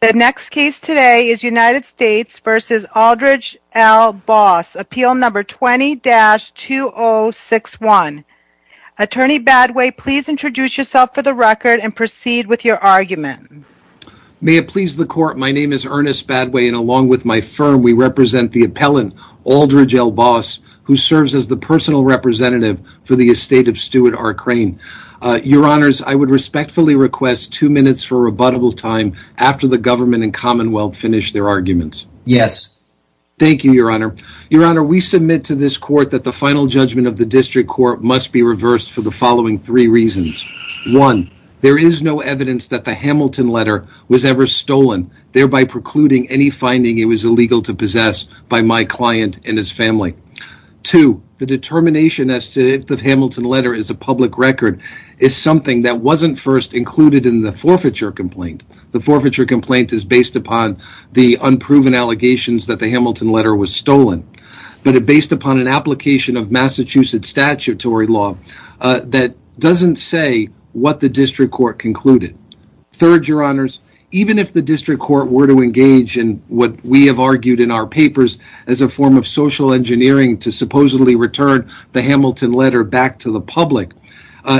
The next case today is United States v. Aldridge L. Boss, appeal number 20-2061. Attorney Badway, please introduce yourself for the record and proceed with your argument. May it please the court, my name is Ernest Badway and along with my firm we represent the appellant, Aldridge L. Boss, who serves as the personal representative for the estate of Stuart R. Crane. Your honors, I would respectfully request two minutes for rebuttable time after the government and commonwealth finish their arguments. Thank you, your honor. Your honor, we submit to this court that the final judgment of the district court must be reversed for the following three reasons. There is no evidence that the Hamilton letter was ever stolen, thereby precluding any finding it was illegal to possess by my client and his family. Two, the determination as to if the Hamilton letter is a public record is something that wasn�t first included in the forfeiture complaint. The forfeiture complaint is based upon the unproven allegations that the Hamilton letter was stolen, but it is based upon an application of Massachusetts statutory law that doesn�t say what the district court concluded. Third, your honors, even if the district court were to engage in what we have argued in our hearing to supposedly return the Hamilton letter back to the public,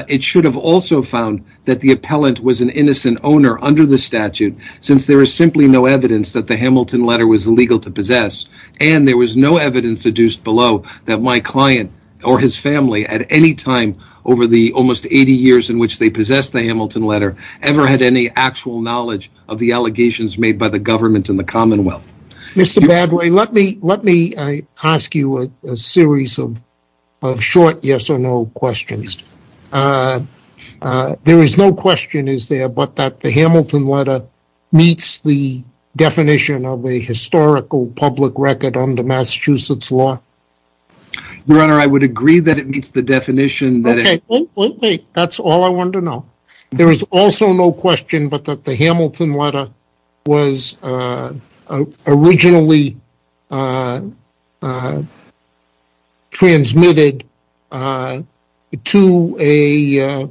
it should have also found that the appellant was an innocent owner under the statute, since there is simply no evidence that the Hamilton letter was illegal to possess, and there was no evidence deduced below that my client or his family at any time over the almost 80 years in which they possessed the Hamilton letter ever had any actual knowledge of the allegations made by the government and the commonwealth. Mr. Badway, let me ask you a series of short yes or no questions. There is no question, is there, but that the Hamilton letter meets the definition of a historical public record under Massachusetts law? Your honor, I would agree that it meets the definition. Okay, wait, wait, wait. That's all I wanted to know. There is also no question, but that the Hamilton letter was originally transmitted to a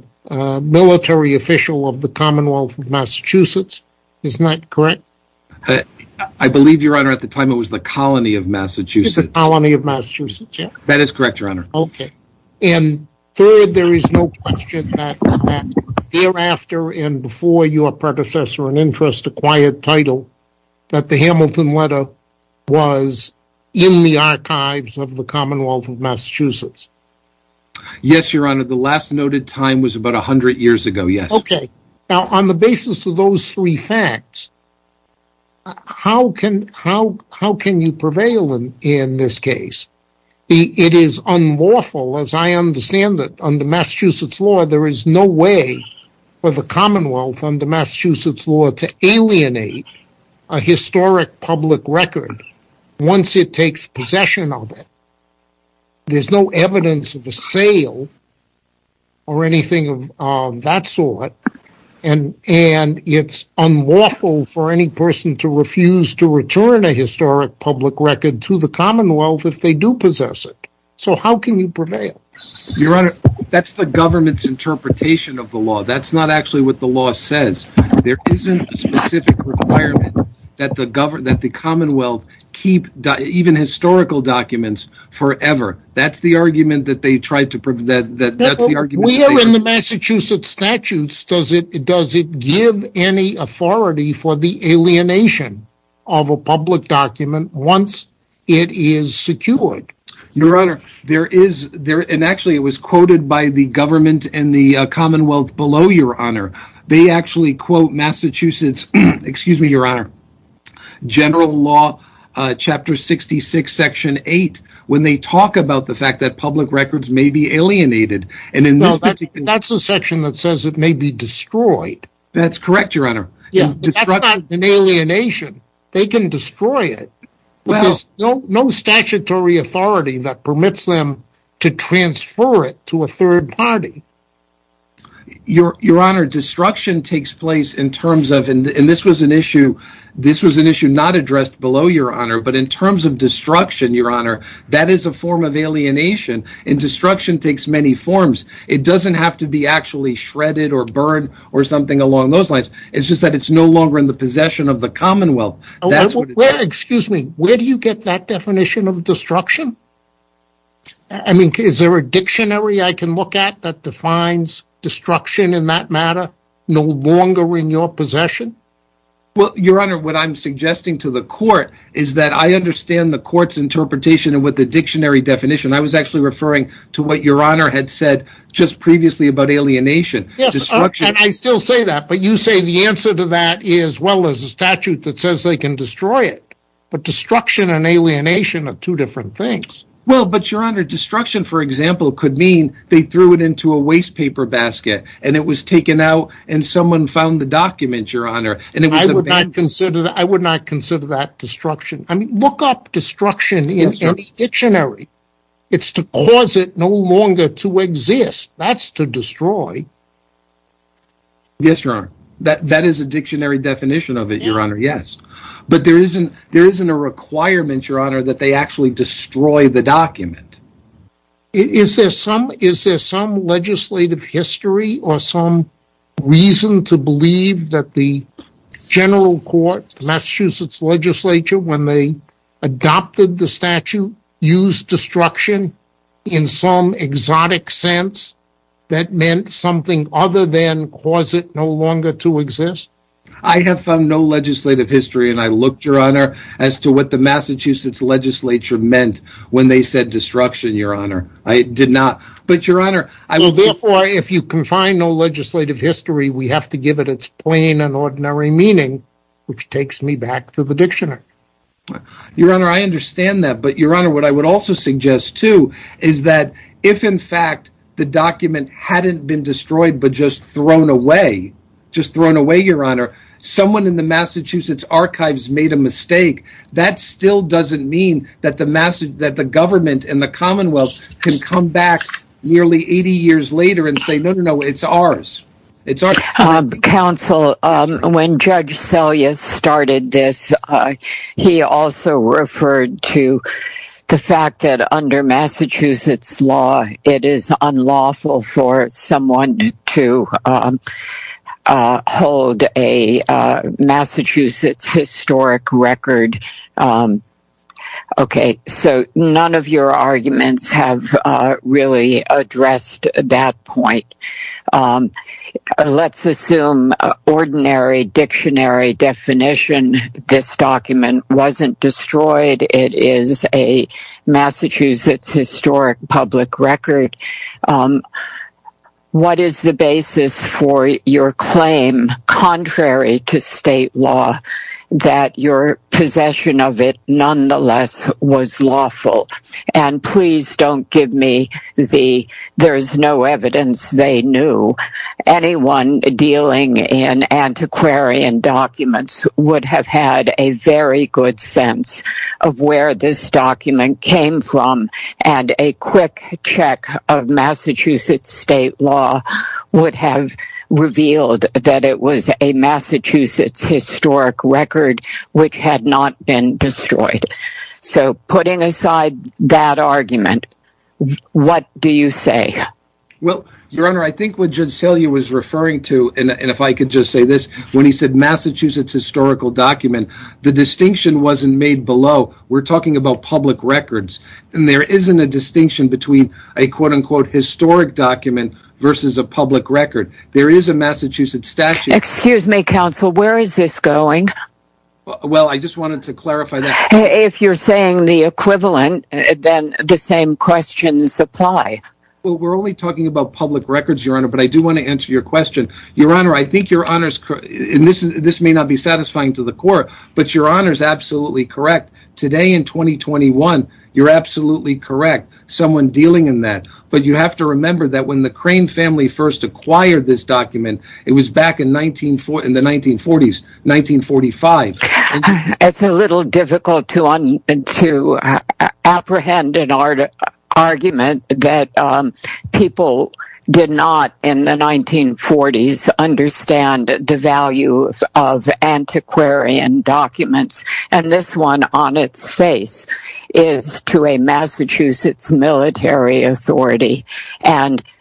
military official of the commonwealth of Massachusetts, is that correct? I believe, your honor, at the time it was the colony of Massachusetts. The colony of Massachusetts, yeah. That is correct, your honor. Okay. And third, there is no question that thereafter and before your predecessor in interest acquired title that the Hamilton letter was in the archives of the commonwealth of Massachusetts? Yes, your honor. The last noted time was about a hundred years ago, yes. Okay. Now, on the basis of those three facts, how can you prevail in this case? It is unlawful, as I understand it, under Massachusetts law, there is no way for the commonwealth under Massachusetts law to alienate a historic public record once it takes possession of it. There is no evidence of a sale or anything of that sort, and it's unlawful for any person to refuse to return a historic public record to the commonwealth if they do possess it. So how can you prevail? Your honor, that's the government's interpretation of the law. That's not actually what the law says. There isn't a specific requirement that the commonwealth keep even historical documents forever. That's the argument that they tried to prove. We are in the Massachusetts statutes. Does it give any authority for the alienation of a public document once it is secured? Your honor, there is, and actually it was quoted by the government and the commonwealth below, your honor. They actually quote Massachusetts, excuse me, your honor, general law chapter 66, section when they talk about the fact that public records may be alienated. That's the section that says it may be destroyed. That's correct, your honor. That's not an alienation. They can destroy it. No statutory authority that permits them to transfer it to a third party. Your honor, destruction takes place in terms of, and this was an issue not addressed below, your honor, but in terms of destruction, your honor, that is a form of alienation and destruction takes many forms. It doesn't have to be actually shredded or burned or something along those lines. It's just that it's no longer in the possession of the commonwealth. Excuse me. Where do you get that definition of destruction? I mean, is there a dictionary I can look at that defines destruction in that matter? No longer in your possession? Well, your honor, what I'm suggesting to the court is that I understand the court's interpretation of what the dictionary definition. I was actually referring to what your honor had said just previously about alienation. Yes, and I still say that, but you say the answer to that is, well, there's a statute that says they can destroy it, but destruction and alienation are two different things. Well, but your honor, destruction, for example, could mean they threw it into a waste paper basket and it was taken out and someone found the document, your honor. I would not consider that destruction. I mean, look up destruction in any dictionary. It's to cause it no longer to exist. That's to destroy. Yes, your honor. That is a dictionary definition of it, your honor, yes. But there isn't a requirement, your honor, that they actually destroy the document. Is there some legislative history or some reason to believe that the general court, Massachusetts legislature, when they adopted the statute, used destruction in some exotic sense that meant something other than cause it no longer to exist? I have found no legislative history, and I looked, your honor, as to what the Massachusetts legislature meant when they said destruction, your honor. I did not. But your honor, I will therefore, if you confine no legislative history, we have to give it its plain and ordinary meaning, which takes me back to the dictionary. Your honor, I understand that. But your honor, what I would also suggest, too, is that if, in fact, the document hadn't been destroyed but just thrown away, just thrown away, your honor, someone in the Massachusetts archives made a mistake, that still doesn't mean that the government and the commonwealth can come back nearly 80 years later and say, no, no, no, it's ours. It's ours. Counsel, when Judge Selyus started this, he also referred to the fact that under Massachusetts law, it is unlawful for someone to hold a Massachusetts historic record. Okay, so none of your arguments have really addressed that point. Let's assume ordinary dictionary definition, this document wasn't destroyed, it is a Massachusetts historic public record. What is the basis for your claim, contrary to state law, that your possession of it nonetheless was lawful? And please don't give me the, there's no evidence they knew. Anyone dealing in antiquarian documents would have had a very good sense of where this document came from and a quick check of Massachusetts state law would have revealed that it was a Massachusetts historic record which had not been destroyed. So putting aside that argument, what do you say? Well, your honor, I think what Judge Selyus was referring to, and if I could just say this, when he said Massachusetts historical document, the distinction wasn't made below. We're talking about public records, and there isn't a distinction between a quote-unquote historic document versus a public record. There is a Massachusetts statute. Excuse me, counsel, where is this going? Well, I just wanted to clarify that. If you're saying the equivalent, then the same questions apply. Well, we're only talking about public records, your honor, but I do want to answer your question. Your honor, I think your honor's, and this may not be satisfying to the court, but your honor's absolutely correct. Today in 2021, you're absolutely correct. Someone dealing in that, but you have to remember that when the Crane family first acquired this document, it was back in the 1940s, 1945. It's a little difficult to apprehend an argument that people did not, in the 1940s, understand the value of antiquarian documents. This one on its face is to a Massachusetts military authority.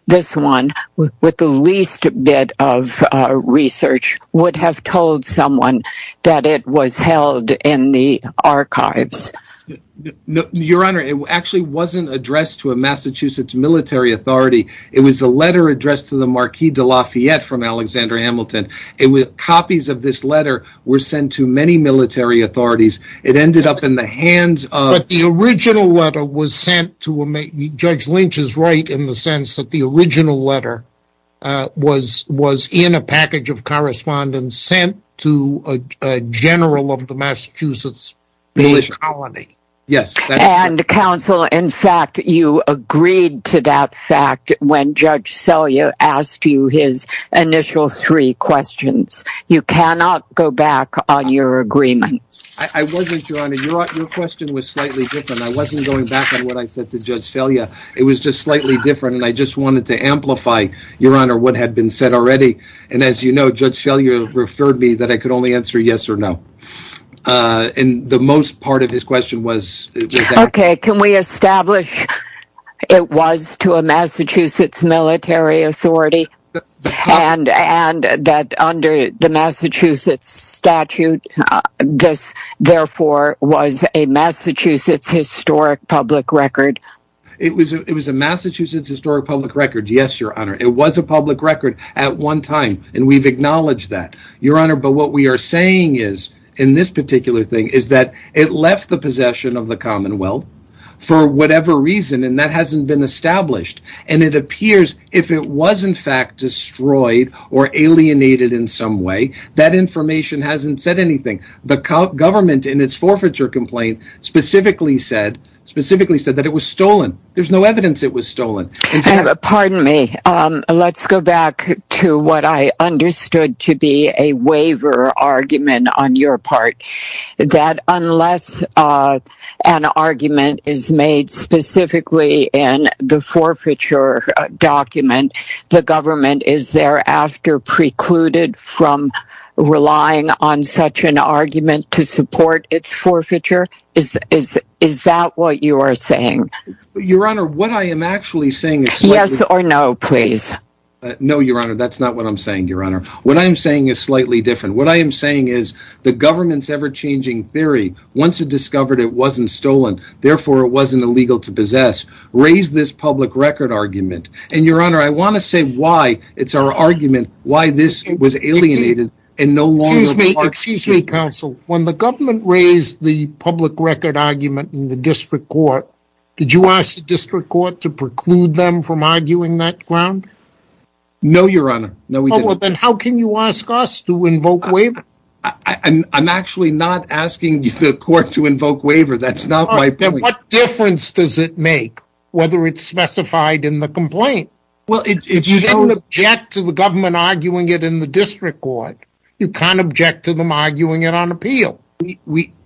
This one, with the least bit of research, would have told someone that it was held in the archives. Your honor, it actually wasn't addressed to a Massachusetts military authority. It was a letter addressed to the Marquis de Lafayette from Alexander Hamilton. Copies of this letter were sent to many military authorities. It ended up in the hands of- But the original letter was sent to a- Judge Lynch is right in the sense that the original letter was in a package of correspondence sent to a general of the Massachusetts military colony. Yes. Counsel, in fact, you agreed to that fact when Judge Selya asked you his initial three questions. You cannot go back on your agreement. I wasn't, your honor. Your question was slightly different. I wasn't going back on what I said to Judge Selya. It was just slightly different, and I just wanted to amplify, your honor, what had been said already. As you know, Judge Selya referred me that I could only answer yes or no. The most part of his question was- Okay, can we establish it was to a Massachusetts military authority, and that under the Massachusetts statute, this, therefore, was a Massachusetts historic public record? It was a Massachusetts historic public record, yes, your honor. It was a public record at one time, and we've acknowledged that, your honor, but what we are saying is, in this particular thing, is that it left the possession of the Commonwealth for whatever reason, and that hasn't been established. It appears if it was, in fact, destroyed or alienated in some way, that information hasn't said anything. The government, in its forfeiture complaint, specifically said that it was stolen. There's no evidence it was stolen. Pardon me. Let's go back to what I understood to be a waiver argument on your part. That unless an argument is made specifically in the forfeiture document, the government is thereafter precluded from relying on such an argument to support its forfeiture? Is that what you are saying? Your honor, what I am actually saying is slightly different. Yes or no, please. No, your honor, that's not what I'm saying, your honor. What I'm saying is slightly different. What I am saying is, the government's ever-changing theory, once it discovered it wasn't stolen, therefore, it wasn't illegal to possess, raised this public record argument, and your honor, I want to say why it's our argument, why this was alienated and no longer... Excuse me, counsel. When the government raised the public record argument in the district court, did you ask the district court to preclude them from arguing that ground? No your honor. Then how can you ask us to invoke waiver? I'm actually not asking the court to invoke waiver. That's not my point. Then what difference does it make whether it's specified in the complaint? Well it shows... If you didn't object to the government arguing it in the district court, you can't object to them arguing it on appeal.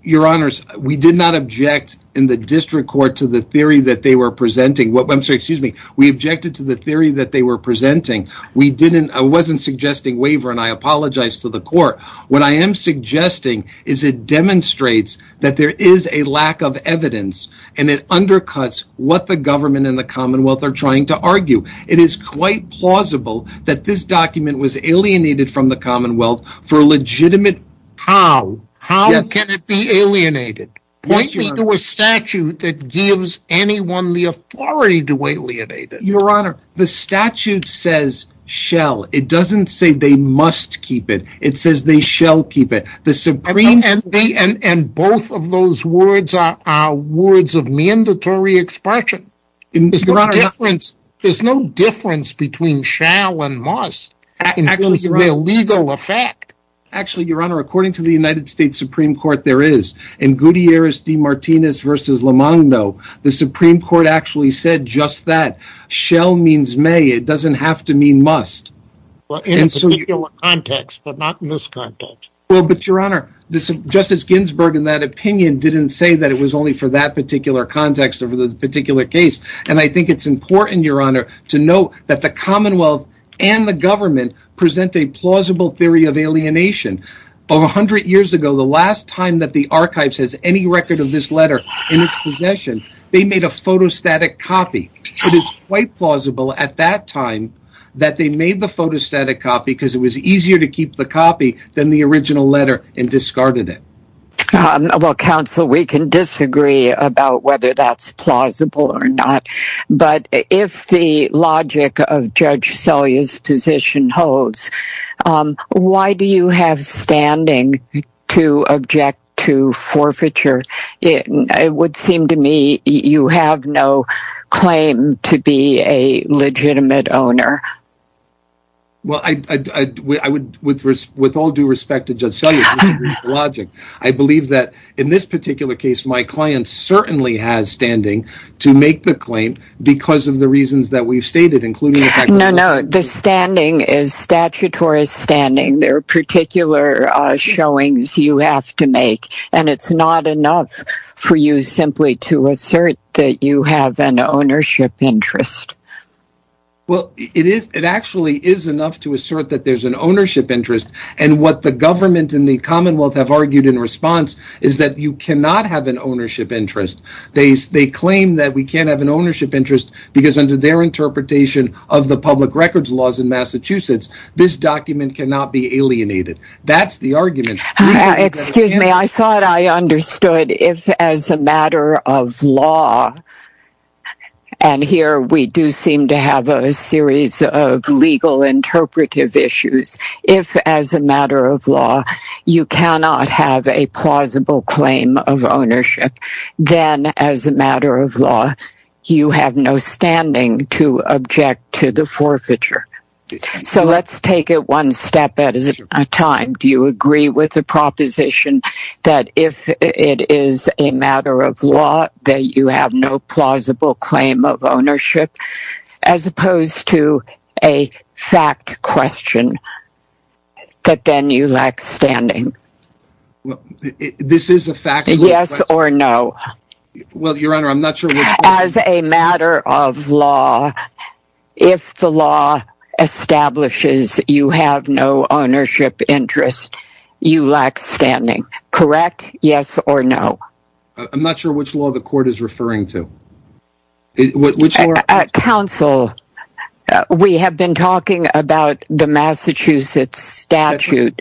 Your honors, we did not object in the district court to the theory that they were presenting. I'm sorry, excuse me. We objected to the theory that they were presenting. We didn't... I wasn't suggesting waiver, and I apologize to the court. What I am suggesting is it demonstrates that there is a lack of evidence, and it undercuts what the government and the commonwealth are trying to argue. It is quite plausible that this document was alienated from the commonwealth for a legitimate reason. How? How can it be alienated? Point me to a statute that gives anyone the authority to alienate it. Your honor, the statute says, shall. It doesn't say they must keep it. It says they shall keep it. The supreme court... And both of those words are words of mandatory expression. Your honor, there is no difference between shall and must in terms of the legal effect. Actually, your honor, according to the United States Supreme Court, there is. In Gutierrez de Martinez v. Lamando, the supreme court actually said just that. Shall means may. It doesn't have to mean must. In a particular context, but not in this context. Well, but your honor, Justice Ginsburg, in that opinion, didn't say that it was only for that particular context or for that particular case. And I think it's important, your honor, to note that the commonwealth and the government present a plausible theory of alienation. Over a hundred years ago, the last time that the archives has any record of this letter in its possession, they made a photostatic copy. It is quite plausible at that time that they made the photostatic copy because it was easier to keep the copy than the original letter and discarded it. Well, counsel, we can disagree about whether that's plausible or not. But if the logic of Judge Selye's position holds, why do you have standing to object to forfeiture? It would seem to me you have no claim to be a legitimate owner. Well, I would, with all due respect to Judge Selye, disagree with the logic. I believe that in this particular case, my client certainly has standing to make the claim because of the reasons that we've stated, including the fact that the person... No, no. The standing is statutory standing. There are particular showings you have to make. And it's not enough for you simply to assert that you have an ownership interest. Well, it is. It actually is enough to assert that there's an ownership interest. And what the government and the Commonwealth have argued in response is that you cannot have an ownership interest. They claim that we can't have an ownership interest because under their interpretation of the public records laws in Massachusetts, this document cannot be alienated. That's the argument. Excuse me. I thought I understood if as a matter of law, and here we do seem to have a series of legal interpretive issues, if as a matter of law, you cannot have a plausible claim of ownership, then as a matter of law, you have no standing to object to the forfeiture. So let's take it one step at a time. Do you agree with the proposition that if it is a matter of law that you have no plausible claim of ownership, as opposed to a fact question, that then you lack standing? This is a fact question. Yes or no? Well, Your Honor, I'm not sure which one. As a matter of law, if the law establishes you have no ownership interest, you lack standing. Correct? Yes or no? I'm not sure which law the court is referring to. Counsel, we have been talking about the Massachusetts statute,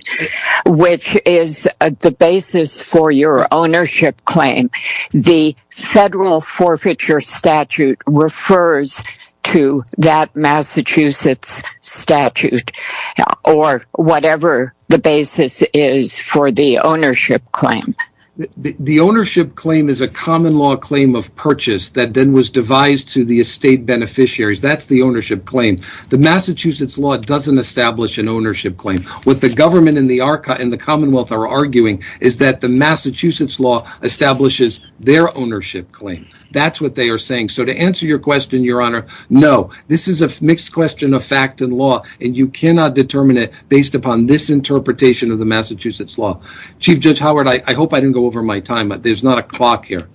which is the basis for your ownership claim. The federal forfeiture statute refers to that Massachusetts statute or whatever the basis is for the ownership claim. The ownership claim is a common law claim of purchase that then was devised to the estate beneficiaries. That's the ownership claim. The Massachusetts law doesn't establish an ownership claim. What the government and the commonwealth are arguing is that the Massachusetts law establishes their ownership claim. That's what they are saying. So to answer your question, Your Honor, no. This is a mixed question of fact and law and you cannot determine it based upon this interpretation of the Massachusetts law. Chief Judge Howard, I hope I didn't go over my time, but there's not a clock here.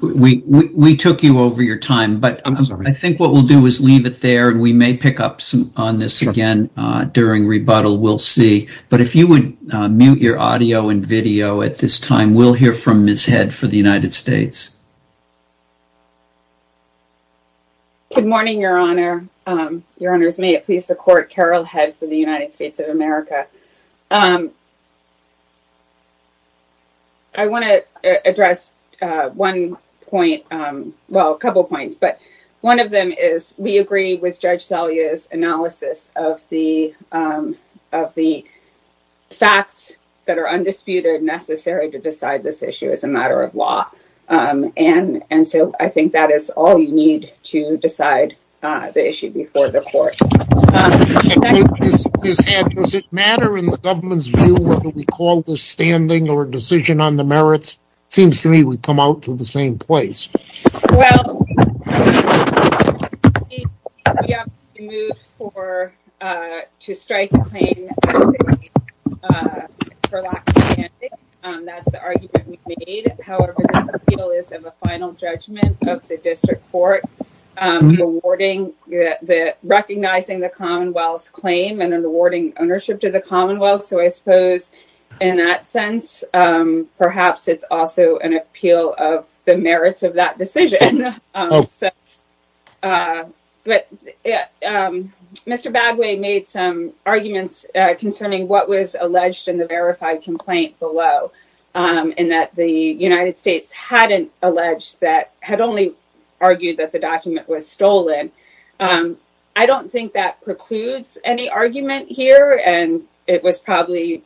We took you over your time, but I think what we'll do is leave it there and we may pick up on this again during rebuttal. We'll see. But if you would mute your audio and video at this time, we'll hear from Ms. Head for the United States. Good morning, Your Honor. Your Honors, may it please the Court, Carol Head for the United States of America. I want to address one point, well, a couple of points, but one of them is we agree with Judge Salia's analysis of the facts that are undisputed necessary to decide this issue as a matter of law. And so I think that is all you need to decide the issue before the Court. Ms. Head, does it matter in the government's view whether we call this standing or a decision on the merits? It seems to me we've come out to the same place. Well, we have to be moved to strike the claim for lack of standing. That's the argument we've made. However, the appeal is of a final judgment of the District Court awarding, recognizing the Commonwealth's claim and awarding ownership to the Commonwealth. So I suppose in that sense, perhaps it's also an appeal of the merits of that decision. But Mr. Badway made some arguments concerning what was alleged in the verified complaint below, in that the United States hadn't alleged that, had only argued that the document was stolen. I don't think that precludes any argument here, and it was probably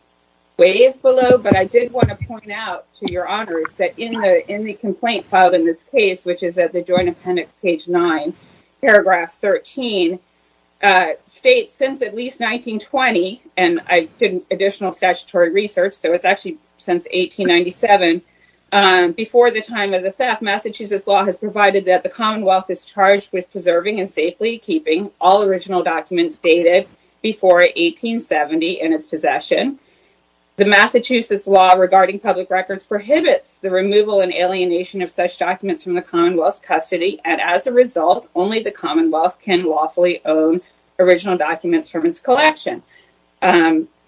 waived below, but I did want to point out to your honors that in the complaint filed in this case, which is at the Joint Appendix, page 9, paragraph 13, states since at least 1920, and I did additional statutory research, so it's actually since 1897, before the time of the theft, Massachusetts law has provided that the Commonwealth is charged with preserving and safely keeping all original documents dated before 1870 in its possession. The Massachusetts law regarding public records prohibits the removal and alienation of such documents from the Commonwealth's custody, and as a result, only the Commonwealth can lawfully own original documents from its collection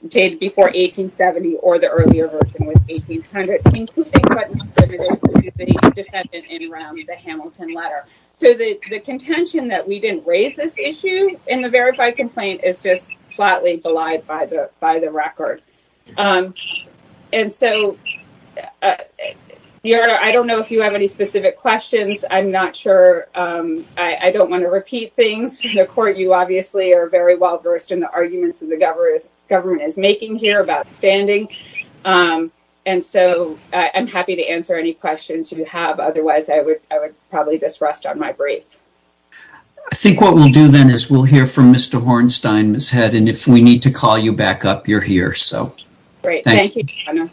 dated before 1870, or the earlier version with 1800, including but not limited to the defendant in Rome, the Hamilton letter. So the contention that we didn't raise this issue in the verified complaint is just flatly belied by the record. And so, your honor, I don't know if you have any specific questions. I'm not sure, I don't want to repeat things. The court, you obviously are very well versed in the arguments that the government is making here about standing, and so I'm happy to answer any questions you have, otherwise I would probably just rest on my brief. I think what we'll do then is we'll hear from Mr. Hornstein, Ms. Head, and if we need to call you back up, you're here, so. Great, thank you, your honor.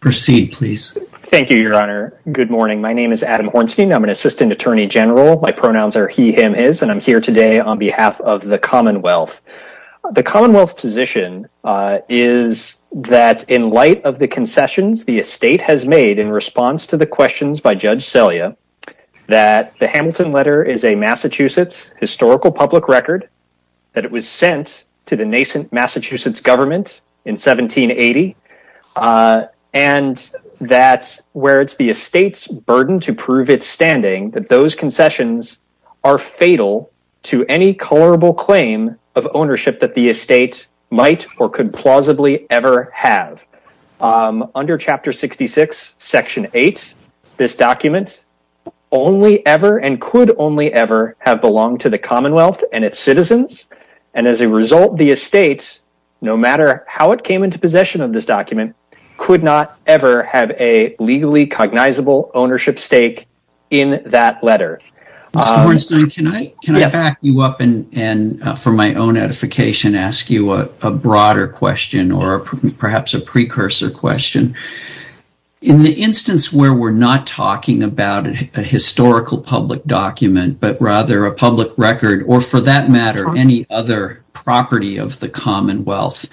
Proceed, please. Thank you, your honor. Good morning, my name is Adam Hornstein, I'm an assistant attorney general, my pronouns are he, him, his, and I'm here today on behalf of the Commonwealth. The Commonwealth's position is that in light of the concessions the estate has made in response to the questions by Judge Selya, that the Hamilton letter is a Massachusetts historical public record, that it was sent to the nascent Massachusetts government in 1780, and that where it's the estate's burden to prove its standing, that those concessions are fatal to any colorable claim of ownership that the estate might or could plausibly ever have. Under Chapter 66, Section 8, this document only ever and could only ever have belonged to the Commonwealth and its citizens, and as a result the estate, no matter how it came into possession of this document, could not ever have a legally cognizable ownership stake in that letter. Mr. Hornstein, can I back you up and for my own edification ask you a broader question or perhaps a precursor question? In the instance where we're not talking about a historical public document, but rather a public record, or for that matter, any other property of the Commonwealth,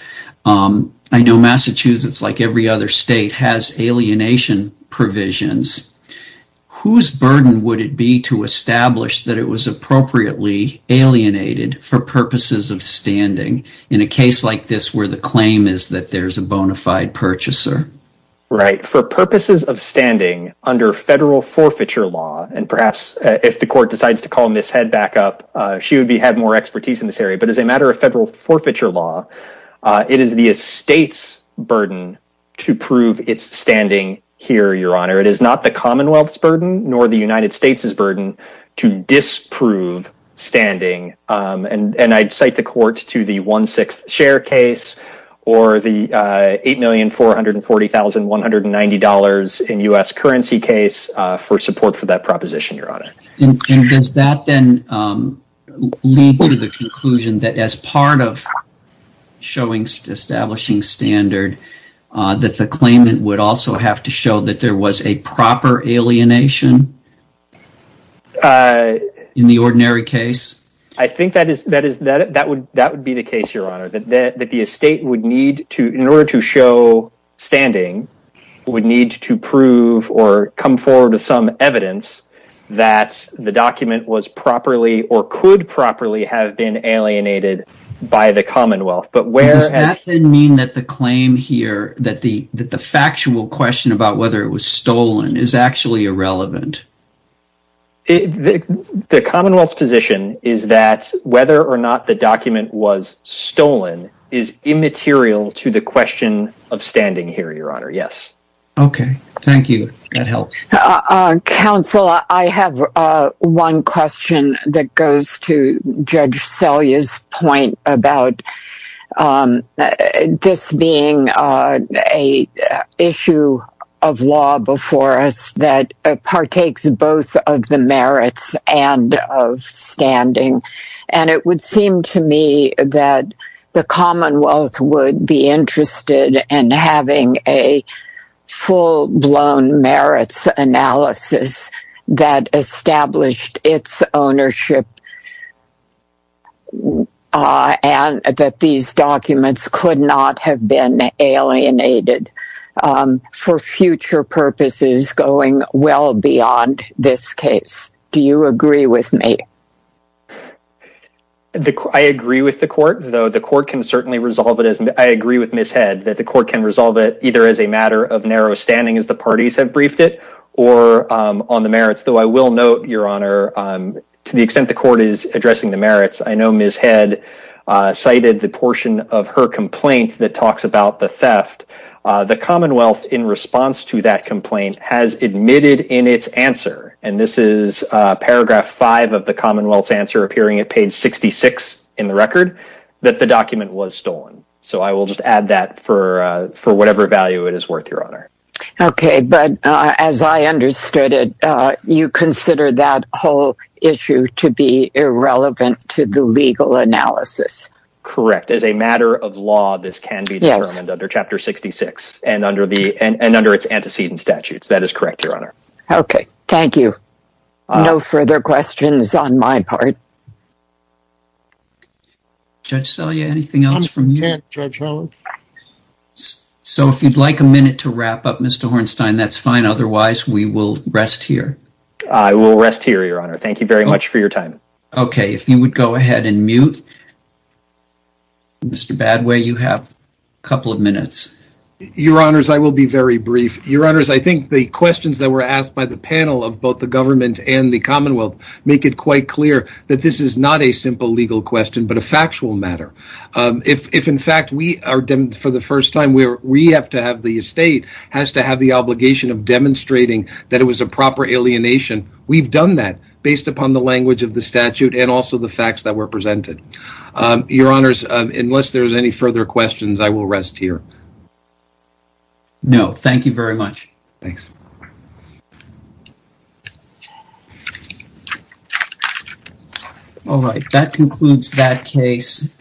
I know Massachusetts, like every other state, has alienation provisions. Whose burden would it be to establish that it was appropriately alienated for purposes of standing in a case like this where the claim is that there's a bona fide purchaser? Right. For purposes of standing under federal forfeiture law, and perhaps if the court decides to call Ms. Head back up, she would have more expertise in this area, but as a matter of federal forfeiture law, it is the estate's burden to prove its standing here, Your Honor. It is not the Commonwealth's burden nor the United States' burden to disprove standing, and I'd cite the court to the one-sixth share case or the $8,440,190 in U.S. currency case for support for that proposition, Your Honor. And does that then lead to the conclusion that as part of showing establishing standard that the claimant would also have to show that there was a proper alienation in the ordinary case? I think that would be the case, Your Honor, that the estate would need to, in order to show standing, would need to prove or come forward with some evidence that the document was properly or could properly have been alienated by the Commonwealth. Does that then mean that the claim here, that the factual question about whether it was The Commonwealth's position is that whether or not the document was stolen is immaterial to the question of standing here, Your Honor. Yes. Okay. Thank you. That helps. Counsel, I have one question that goes to Judge Selye's point about this being an issue of law before us that partakes both of the merits and of standing. And it would seem to me that the Commonwealth would be interested in having a full-blown merits analysis that established its ownership and that these documents could not have been alienated for future purposes going well beyond this case. Do you agree with me? I agree with the Court, though the Court can certainly resolve it as I agree with Ms. Head that the Court can resolve it either as a matter of narrow standing as the parties have briefed it, or on the merits. Though I will note, Your Honor, to the extent the Court is addressing the merits, I know Ms. Head cited the portion of her complaint that talks about the theft. The Commonwealth, in response to that complaint, has admitted in its answer, and this is paragraph 5 of the Commonwealth's answer appearing at page 66 in the record, that the document was stolen. So I will just add that for whatever value it is worth, Your Honor. Okay, but as I understood it, you consider that whole issue to be irrelevant to the legal analysis. Correct, as a matter of law this can be determined under Chapter 66 and under its antecedent statutes. That is correct, Your Honor. Okay, thank you. No further questions on my part. Judge Selye, anything else from you? I'm content, Judge Holland. So if you'd like a minute to wrap up, Mr. Hornstein, that's fine otherwise we will rest here. I will rest here, Your Honor. Thank you very much for your time. Okay, if you would go ahead and mute Mr. Badway, you have a couple of minutes. Your Honors, I will be very brief. Your Honors, I think the questions that were asked by the panel of both the Government and the Commonwealth make it quite clear that this is not a simple legal question, but a factual matter. If, in fact, for the first time, we have to have the State has to have the obligation of demonstrating that it was a proper alienation, we've done that based upon the language of the statute and also the facts that were presented. Your Honors, unless there's any further questions, I will rest here. No, thank you very much. Thanks. Alright, that concludes that case.